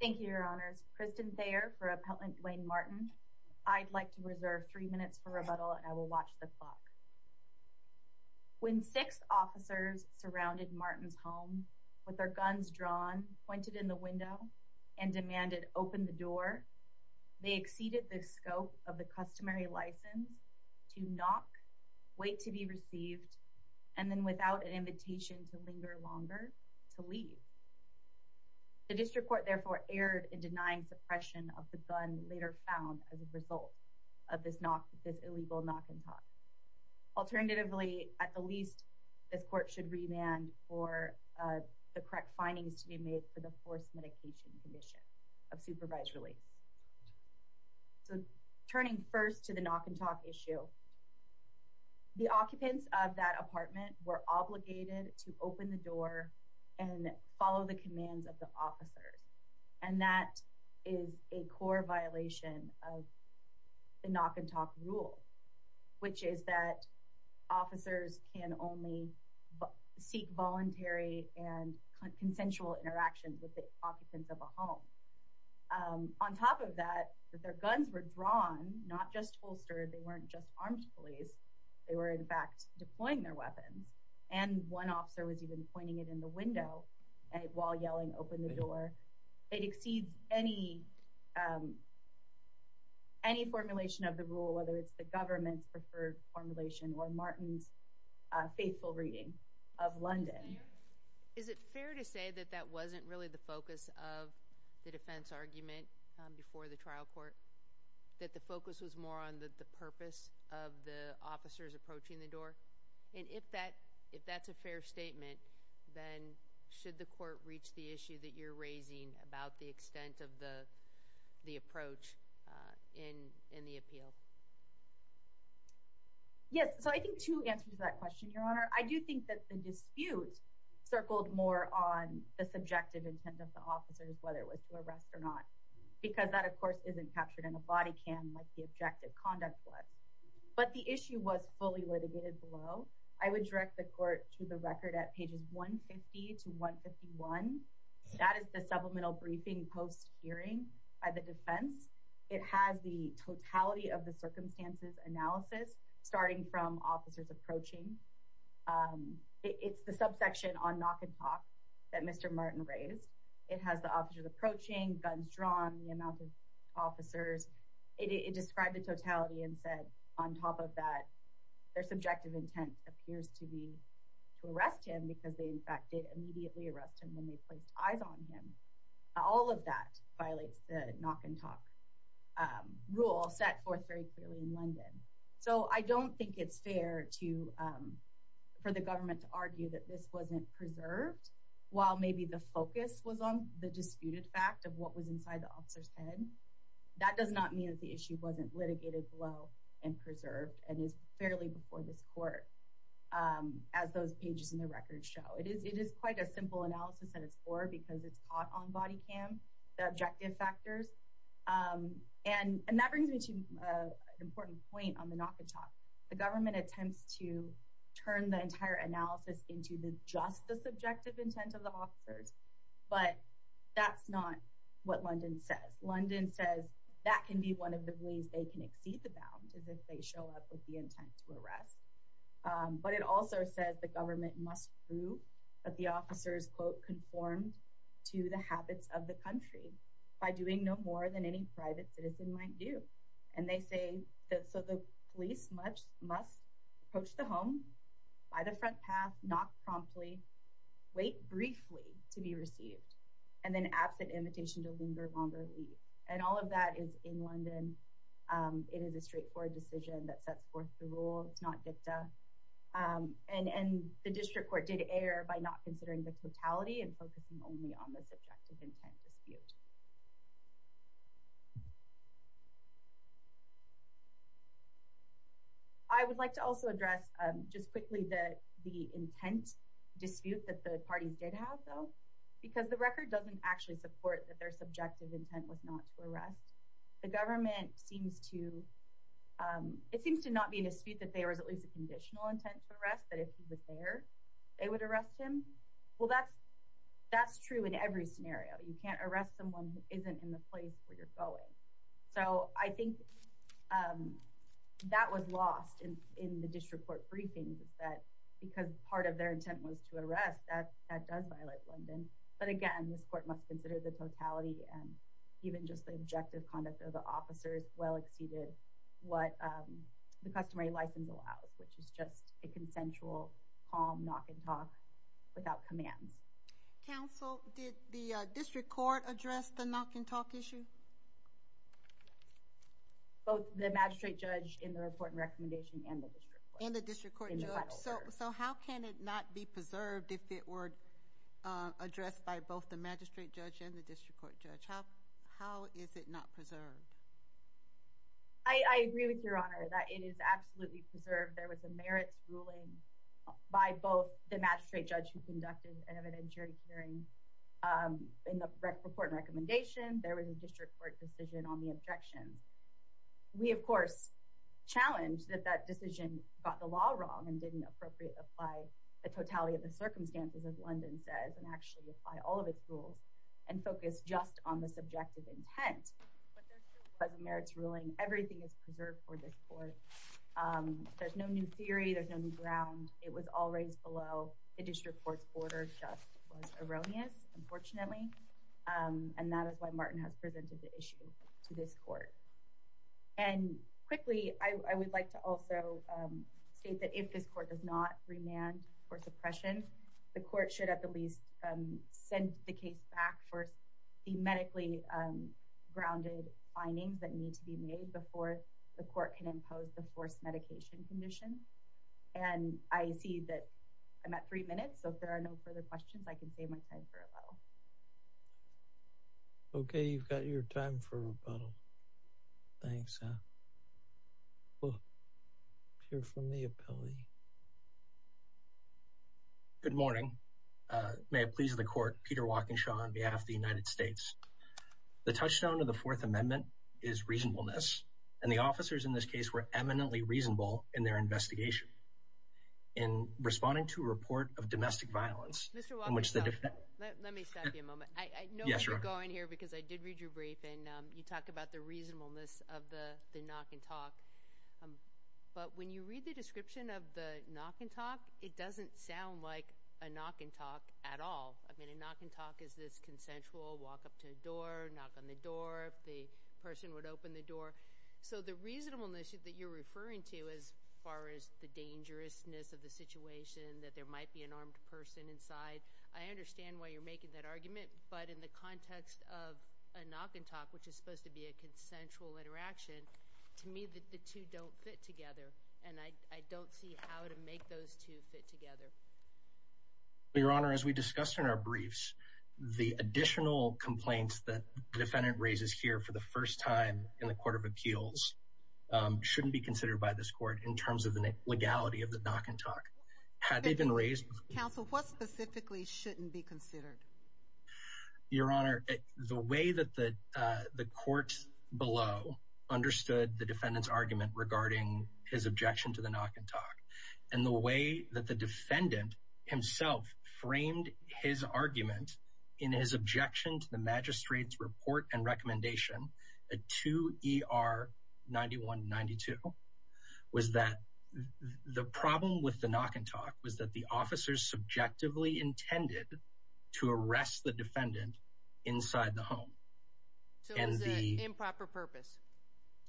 Thank you, Your Honors. Kristen Thayer for Appellant Dwayne Martin. I'd like to reserve three minutes for rebuttal and I will watch the clock. When six officers surrounded Martin's home with their guns drawn, pointed in the window, and demanded, open the door, they exceeded the scope of the customary license to knock, wait to be received, and then without an invitation to linger longer, to leave. The district court therefore erred in denying suppression of the gun later found as a result of this illegal knock and talk. Alternatively, at the least, this court should remand for the correct findings to be made for the forced medication condition of supervised release. So turning first to the knock and talk issue, the occupants of that apartment were obligated to open the door and follow the commands of the officers. And that is a core violation of the knock and talk rule, which is that officers can only seek voluntary and consensual interaction with the occupants of a home. On top of that, their guns were drawn, not just holstered, they weren't just armed police, they were in fact deploying their weapons. And one officer was even pointing it in the window while yelling, open the door. It exceeds any formulation of the rule, whether it's the government's preferred formulation or Martin's faithful reading of London. Is it fair to say that that wasn't really the focus of the defense argument before the trial court? That the focus was more on the purpose of the officers approaching the door? And if that's a fair statement, then should the court reach the issue that you're raising about the extent of the approach in the appeal? Yes, so I think two answers to that question, Your Honor. I do think that the dispute circled more on the subjective intent of the officers, whether it was to arrest or not, because that of course isn't captured in a body cam like the objective conduct was. But the issue was fully litigated below. I would direct the court to the record at pages 150 to 151. That is the supplemental briefing post-hearing by the defense. It has the totality of the circumstances analysis, starting from officers approaching. It's the subsection on knock and talk that Mr. Martin raised. It has the officers approaching, guns drawn, the amount of officers. It described the totality and said on top of that, their subjective intent appears to be to arrest him because they in fact did immediately arrest him when they placed eyes on him. All of that violates the knock and talk rule set forth very clearly in London. So I don't think it's fair for the government to argue that this wasn't preserved while maybe the focus was on the disputed fact of what was inside the officer's head. That does not mean that the issue wasn't litigated below and preserved and is fairly before this because it's caught on body cam, the objective factors. And that brings me to an important point on the knock and talk. The government attempts to turn the entire analysis into just the subjective intent of the officers, but that's not what London says. London says that can be one of the ways they can exceed the bound as if they show up with the intent to arrest. But it also says the government must prove that the officers, quote, conformed to the habits of the country by doing no more than any private citizen might do. And they say that so the police must approach the home by the front path, knock promptly, wait briefly to be received, and then absent invitation to linger longer leave. And all of that is in London. It is a straightforward decision that sets forth the rule. It's not dicta. And the district court did err by not considering the totality and focusing only on the subjective intent dispute. I would like to also address just quickly that the intent dispute that the parties did have, though, because the record doesn't actually support that their the government seems to, it seems to not be in dispute that there was at least a conditional intent to arrest that if he was there, they would arrest him. Well, that's, that's true in every scenario, you can't arrest someone who isn't in the place where you're going. So I think that was lost in in the district court briefings that because part of their intent was to arrest that that does violate London. But again, this court must consider the totality and even just the objective conduct of the officers well exceeded what the customary license allows, which is just a consensual, calm, knock and talk without commands. Council, did the district court address the knock and talk issue? Both the magistrate judge in the report and recommendation and the district court. And the district court judge. So how can it not be preserved if it were addressed by both the magistrate judge and the district court judge? How? How is it not preserved? I agree with your honor that it is absolutely preserved. There was a merits ruling by both the magistrate judge who conducted an evidentiary hearing. In the report recommendation, there was a district court decision on the objections. We of course, challenge that that decision got the law wrong and didn't appropriately apply the totality of the circumstances of London says and actually apply all of its rules and focus just on the subjective intent. But there's a merits ruling. Everything is preserved for this court. There's no new theory. There's no new ground. It was all raised below the district court's border. Just was erroneous, unfortunately. And that is why Martin has presented the issue to this court. And quickly, I would like to also state that if this court does not remand or suppression, the court should have the least send the case back for the medically grounded findings that need to be made before the court can impose the forced medication condition. And I see that I'm at three minutes. So if there are no further questions, I can save my time for a little. Okay, you've got May it please the court. Peter walking show on behalf of the United States. The touchstone of the Fourth Amendment is reasonableness, and the officers in this case were eminently reasonable in their investigation in responding to a report of domestic violence in which the defense let me stop you a moment. I know you're going here because I did read your brief and you talk about the reasonableness of the knock and talk. But when you read the knock and talk is this consensual? Walk up to a door, knock on the door. The person would open the door. So the reasonableness that you're referring to is far is the dangerousness of the situation that there might be an armed person inside. I understand why you're making that argument. But in the context of a knock and talk, which is supposed to be a consensual interaction to me that the two don't fit together, and I don't see how to make those two fit your honor. As we discussed in our briefs, the additional complaints that defendant raises here for the first time in the Court of Appeals shouldn't be considered by this court in terms of the legality of the knock and talk. Had they been raised Council, what specifically shouldn't be considered? Your Honor, the way that the courts below understood the defendant's regarding his objection to the knock and talk and the way that the defendant himself framed his argument in his objection to the magistrate's report and recommendation to E. R. 9192 was that the problem with the knock and talk was that the officers subjectively intended to arrest the defendant inside the home and the improper purpose.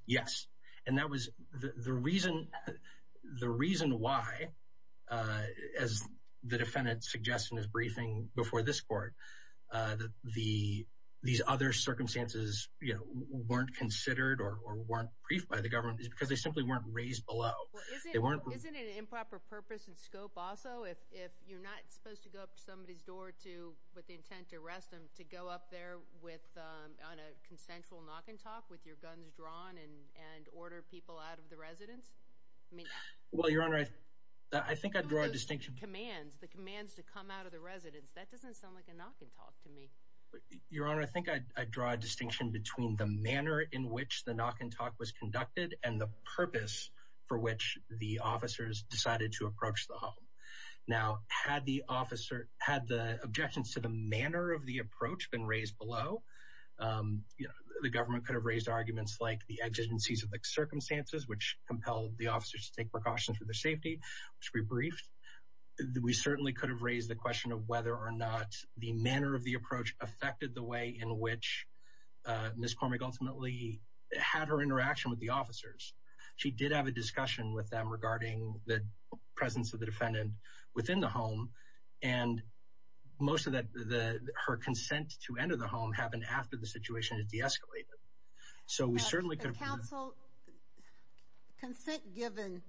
Yes, and that was the reason. The reason why, uh, as the defendant suggestion is briefing before this court that the these other circumstances weren't considered or weren't briefed by the government is because they simply weren't raised below. They weren't isn't an improper purpose and also if you're not supposed to go up to somebody's door to with the intent to arrest him to go up there with on a consensual knock and talk with your guns drawn and order people out of the residence. I mean, well, your honor, I think I'd draw a distinction commands the commands to come out of the residence. That doesn't sound like a knock and talk to me, your honor. I think I'd draw a distinction between the manner in which the knock and talk was conducted and the purpose for which the officers decided to approach the home. Now, had the officer had the objections to the manner of the approach been raised below, um, you know, the government could have raised arguments like the exigencies of the circumstances which compelled the officers to take precautions for their safety, which we briefed. We certainly could have raised the question of whether or not the manner of the approach affected the way in which, uh, Miss Cormick ultimately had her officers. She did have a discussion with them regarding the presence of the defendant within the home. And most of that, the her consent to enter the home happened after the situation has deescalated. So we certainly could counsel consent given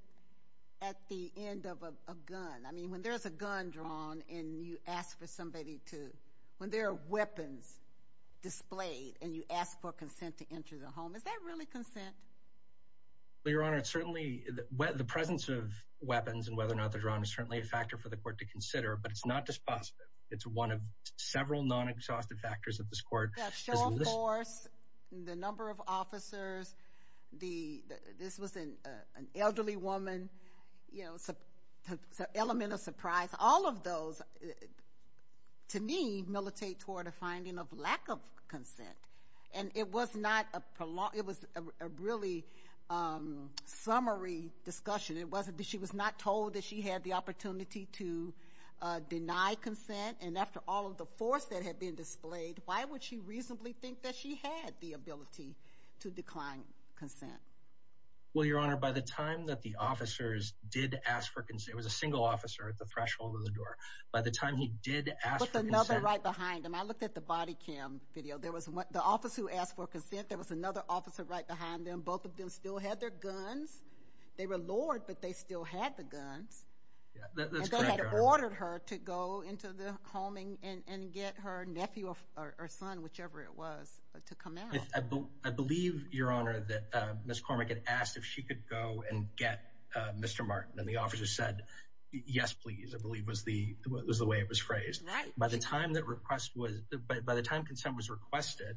at the end of a gun. I mean, when there's a gun drawn and you ask for somebody to when there are weapons displayed and you ask for consent to enter the home, is that really consent? Your honor, it's certainly the presence of weapons and whether or not they're drawn is certainly a factor for the court to consider, but it's not dispositive. It's one of several non-exhaustive factors of this court. That show of force, the number of officers, the, this was an elderly woman, you know, element of surprise. All of those, to me, militate toward a finding of lack of consent. And it was not a prolonged, it was a really, um, summary discussion. It wasn't, she was not told that she had the opportunity to, uh, deny consent. And after all of the force that had been displayed, why would she reasonably think that she had the ability to decline consent? Well, your honor, by the time that the officers did ask for consent, it was a single officer at the threshold of the door. By the time he did ask for another right behind him, I looked at the body cam video. There was one, the officer who asked for consent, there was another officer right behind them. Both of them still had their guns. They were lured, but they still had the guns. And they had ordered her to go into the homing and get her nephew or son, whichever it was, to come out. I believe, your honor, that, uh, Ms. Cormack had asked if she could go and get, uh, Mr. Martin. And the officer said, yes, please. I believe was the, was the way it was phrased. By the time that request was, by the time consent was requested,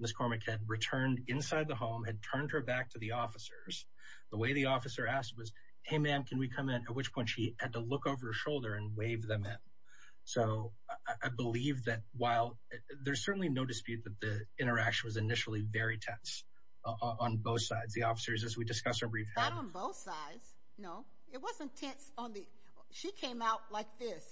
Ms. Cormack had returned inside the home, had turned her back to the officers. The way the officer asked was, hey ma'am, can we come in? At which point she had to look over her shoulder and wave them in. So I believe that while, there's certainly no dispute that the interaction was initially very tense on both sides. The officers, as we discussed, are briefed. Not on both sides, no. It wasn't tense on the, she came out like this.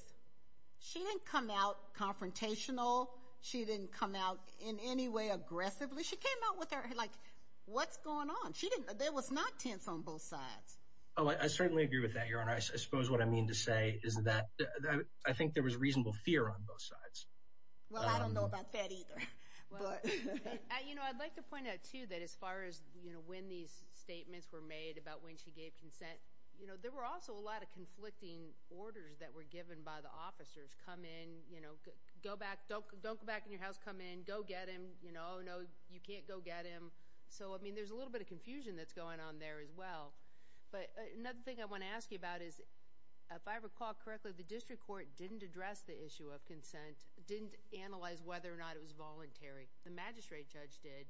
She didn't come out confrontational. She didn't come out in any way aggressively. She came out with her, like, what's going on? She didn't, there was not tense on both sides. Oh, I certainly agree with that, your honor. I suppose what I mean to say is that I think there was reasonable fear on both sides. Well, I don't know about that either. You know, I'd like to point out too that as far as, you know, when these statements were made about when she gave consent, you know, there were also a lot of conflicting orders that were given by the officers. Come in, you know, go back, don't go back in your house, come in, go get him. You know, no, you can't go get him. So, I mean, there's a little bit of confusion that's going on there as well. But another thing I want to ask you about is, if I recall correctly, the district court didn't address the issue of consent, didn't analyze whether or not it was voluntary. The magistrate judge did,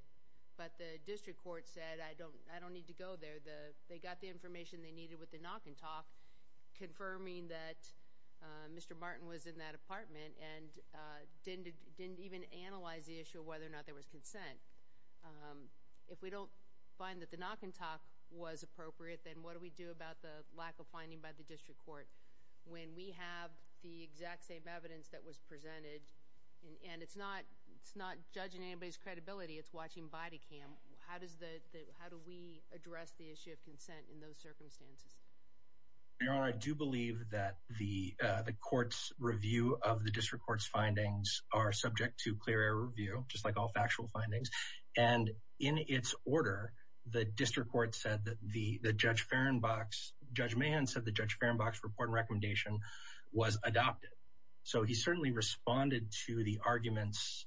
but the district court said, I don't need to go there. They got the information they needed with the knock and talk, confirming that Mr. Martin was in that apartment, and didn't even analyze the issue of whether or not there was consent. If we don't find that the knock and talk was appropriate, then what do we do about the lack of finding by the district court? When we have the exact same evidence that was presented, and it's not judging anybody's credibility, it's watching body cam. How does the, how do we address the issue of consent in those circumstances? Your Honor, I do believe that the court's review of the district court's findings are subject to clear air review, just like all factual findings. And in its order, the district court said that the Judge Fehrenbach's, Judge Mahan said the Judge Fehrenbach's report and recommendation was adopted. So, he certainly responded to the arguments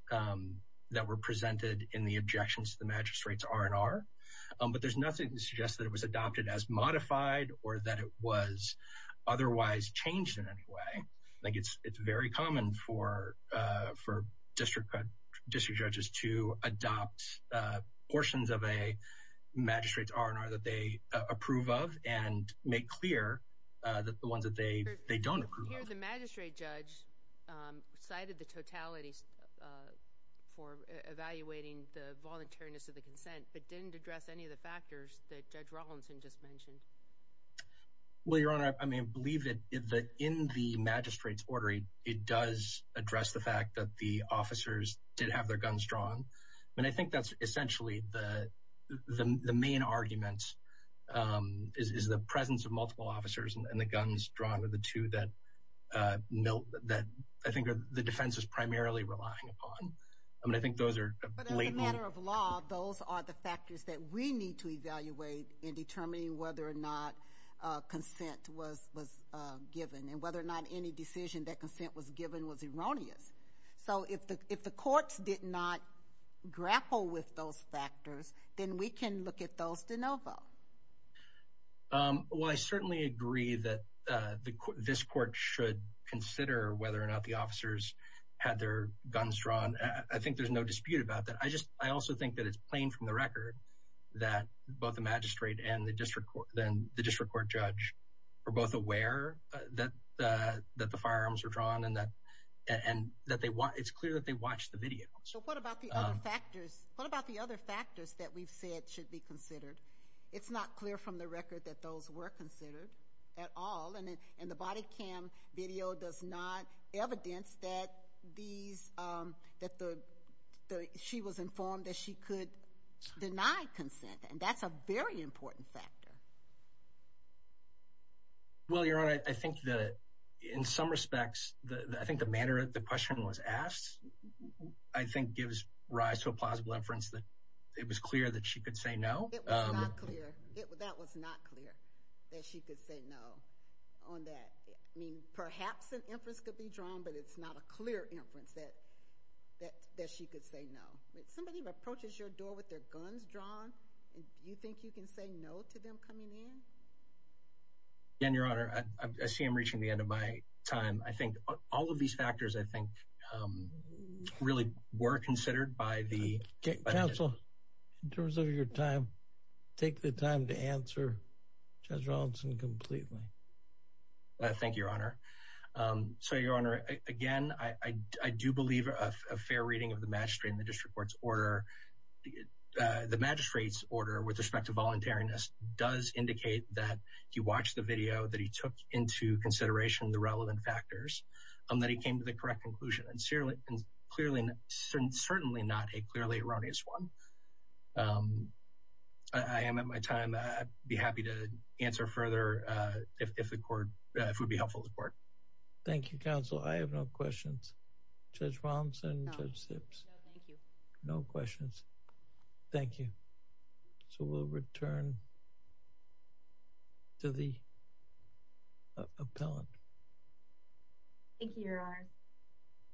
that were presented in the objections to the R&R. But there's nothing to suggest that it was adopted as modified, or that it was otherwise changed in any way. Like, it's very common for district judges to adopt portions of a magistrate's R&R that they approve of, and make clear that the ones that they don't approve of. Here, the magistrate judge cited the totality for evaluating the voluntariness of the consent, but didn't address any of the factors that Judge Rawlinson just mentioned. Well, Your Honor, I mean, I believe that in the magistrate's order, it does address the fact that the officers did have their guns drawn. And I think that's essentially the main argument, is the presence of multiple officers and the guns drawn are the two that, no, that I think the defense is primarily relying upon. I mean, I think those are blatant. Those are the factors that we need to evaluate in determining whether or not consent was given, and whether or not any decision that consent was given was erroneous. So, if the courts did not grapple with those factors, then we can look at those de novo. Well, I certainly agree that this court should consider whether or not the officers had their guns drawn. I think there's no dispute about that. I also think that it's plain from the record that both the magistrate and the district court judge were both aware that the firearms were drawn, and that it's clear that they watched the video. So, what about the other factors that we've said should be considered? It's not clear from the record that those were considered at all, and the body cam video does not evidence that she was informed that she could deny consent, and that's a very important factor. Well, Your Honor, I think that in some respects, I think the manner that the question was asked, I think gives rise to a plausible inference that it was clear that she could say no. It was not clear. That was not clear that she could say no on that. I mean, perhaps an inference could be drawn, but it's not a clear inference that she could say no. Somebody approaches your door with their guns drawn, and you think you can say no to them coming in? Again, Your Honor, I see I'm reaching the end of my time. I think all of these factors, I think, um, really were considered by the... Counsel, in terms of your time, take the time to answer Judge Rawlinson completely. Thank you, Your Honor. So, Your Honor, again, I do believe a fair reading of the magistrate in the district court's order. The magistrate's order, with respect to voluntariness, does indicate that he watched the video, that he took into consideration the relevant factors, and that he came to the correct conclusion, and certainly not a clearly erroneous one. I am at my time. I'd be happy to answer further if the court, if it would be helpful to the court. Thank you, Counsel. I have no questions. Judge Rawlinson, Judge Sips. No, thank you. No questions. Thank you. So, we'll return to the appellant. Thank you, Your Honor.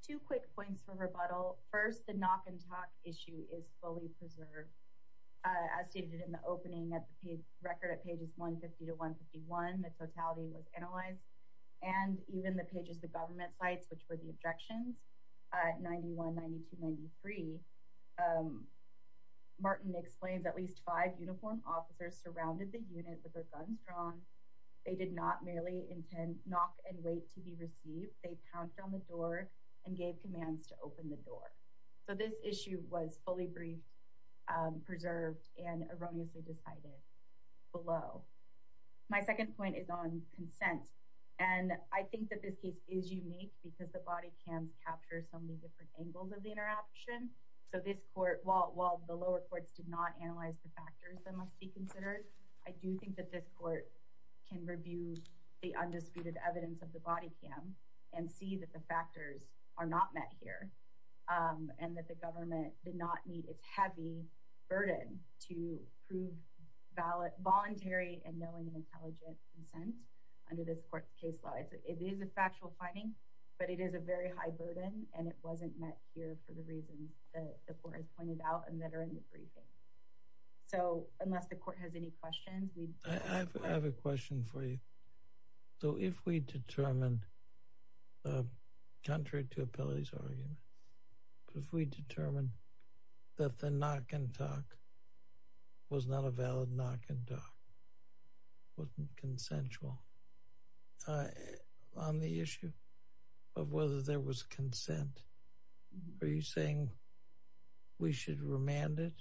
Two quick points for rebuttal. First, the knock and talk issue is fully preserved. As stated in the opening, at the page, record at pages 150 to 151, the totality was analyzed, and even the pages of the government sites, which were the objections, at 91, 92, 93, Martin explains at least five uniformed officers surrounded the unit with their guns drawn. They did not merely intend knock and wait to be received. They pounced on the door and gave commands to open the door. So, this issue was fully briefed, preserved, and erroneously decided below. My second point is on consent, and I think that this case is unique because the body cams capture so many different angles of the interaction. So, this court, while the lower courts did not analyze the factors that must be considered, I do think that this court can review the undisputed evidence of the body cam and see that the factors are not met here, and that the government did not meet its heavy burden to prove voluntary and knowing and and it wasn't met here for the reasons that the court has pointed out and that are in the briefing. So, unless the court has any questions. I have a question for you. So, if we determine, um, contrary to Appellee's argument, if we determine that the knock and talk was not a valid knock and talk, wasn't consensual, on the issue of whether there was consent, are you saying we should remand it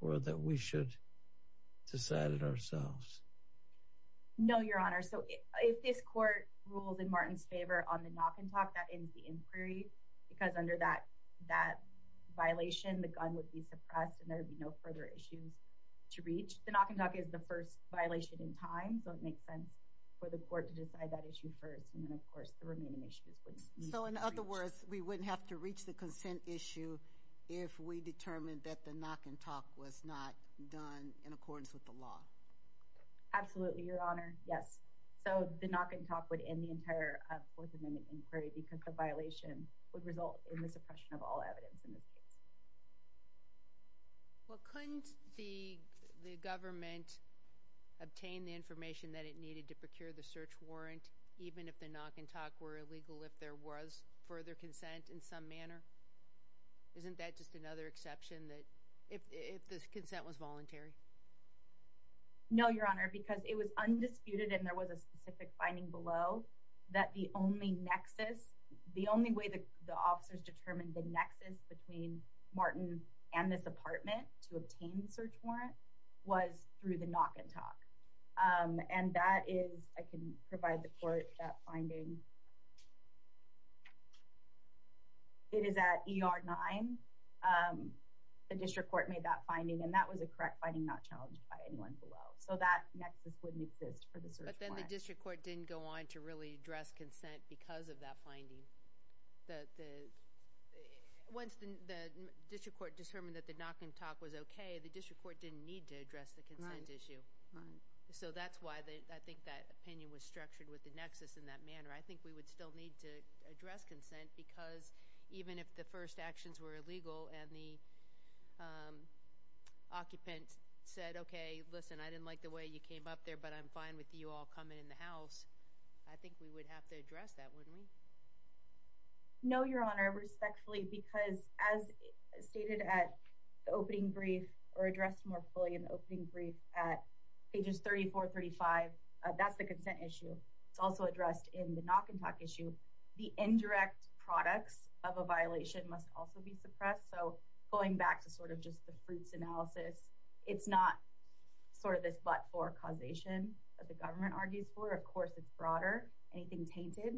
or that we should decide it ourselves? No, Your Honor. So, if this court rules in Martin's favor on the knock and talk, that ends the inquiry because under that violation, the gun would be suppressed and there would be no further issues to reach. The knock and talk is the first violation in time, so it makes sense for the court to decide that issue first, and then, of course, the remaining issues. So, in other words, we wouldn't have to reach the consent issue if we determined that the knock and talk was not done in accordance with the law? Absolutely, Your Honor. Yes. So, the knock and talk would end the entire Fourth Amendment inquiry because the violation would result in the suppression of all evidence in this case. Well, couldn't the government obtain the information that it needed to procure the search warrant, even if the knock and talk were illegal, if there was further consent in some manner? Isn't that just another exception that – if the consent was voluntary? No, Your Honor, because it was undisputed and there was a specific finding below that the only nexus – the only way the officers determined the nexus between Martin and this apartment to obtain the search warrant was through the knock and talk. And that is – I can provide the court that finding. It is at ER 9. The district court made that finding, and that was a correct finding, not challenged by anyone below. So, that nexus wouldn't exist for the search warrant. But then the district court didn't go on to really address consent because of that finding. The – once the district court determined that the knock and talk was okay, the district court didn't need to address the consent issue. Right. So, that's why I think that opinion was structured with the nexus in that manner. I think we would still need to address consent because even if the first actions were illegal and the occupant said, okay, listen, I didn't like the way you came up there, but I'm fine with you all coming in the house, I think we would have to address that, wouldn't we? No, Your Honor, respectfully, because as stated at the opening brief or addressed more fully in the opening brief at pages 34, 35, that's the consent issue. It's also addressed in the knock and talk issue. The indirect products of a violation must also be suppressed. So, going back to sort of just the fruits analysis, it's not sort of this but-for causation that the government argues for, of course, it's broader. Anything tainted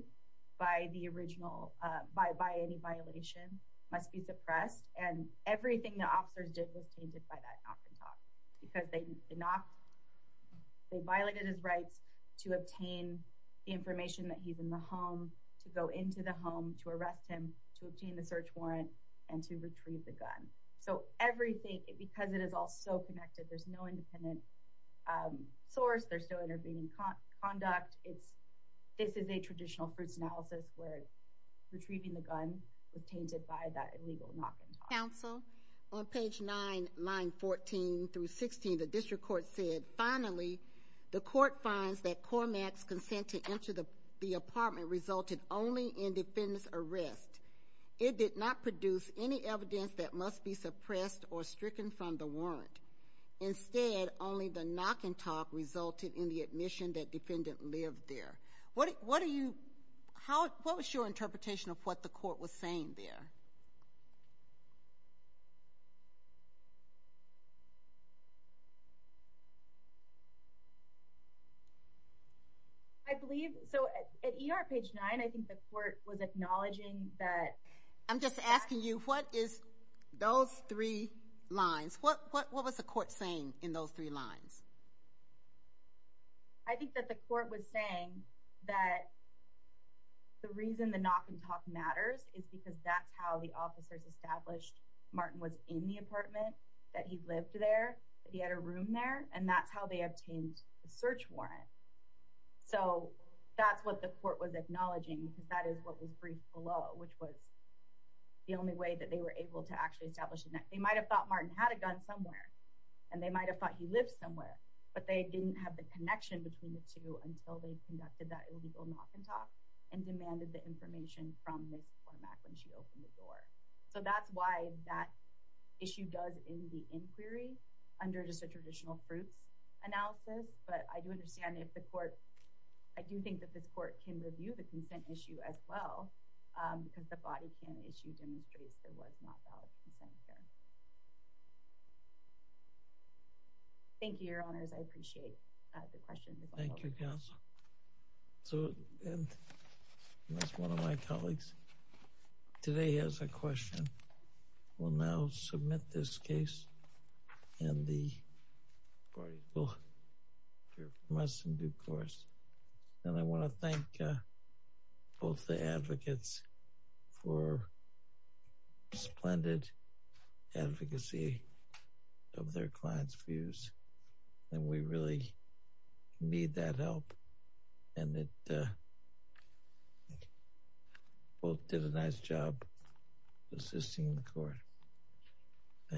by the original – by any violation must be suppressed and everything the officers did was tainted by that knock and talk because they violated his rights to obtain the information that he's in the home, to go into the home, to arrest him, to obtain the search warrant, and to retrieve the gun. So, everything – because it conduct, it's – this is a traditional fruits analysis where retrieving the gun was tainted by that illegal knock and talk. Counsel? On page 9, line 14 through 16, the district court said, finally, the court finds that Cormac's consent to enter the apartment resulted only in defense arrest. It did not produce any evidence that must be suppressed or stricken from the warrant. Instead, only the knock and talk resulted in the admission that defendant lived there. What do you – how – what was your interpretation of what the court was saying there? I believe – so, at ER page 9, I think the court was acknowledging that – I'm just asking you, what is those three lines? What was the court saying in those three lines? I think that the court was saying that the reason the knock and talk matters is because that's how the officers established Martin was in the apartment, that he lived there, that he had a room there, and that's how they obtained the search warrant. So, that's what the court was – the only way that they were able to actually establish – they might have thought Martin had a gun somewhere, and they might have thought he lived somewhere, but they didn't have the connection between the two until they conducted that illegal knock and talk and demanded the information from Ms. Cormac when she opened the door. So, that's why that issue does end the inquiry under just a traditional fruits analysis, but I do understand if the court – I do think this court can review the consent issue as well, because the body can issue demonstrates there was not valid consent here. Thank you, your honors. I appreciate the question. Thank you, counsel. So, that's one of my colleagues. Today, as a question, we'll now submit this case, and the parties will hear from us in due course. And I want to thank both the advocates for splendid advocacy of their clients' views, and we really need that help. And they both did a nice job assisting the court. Thank you.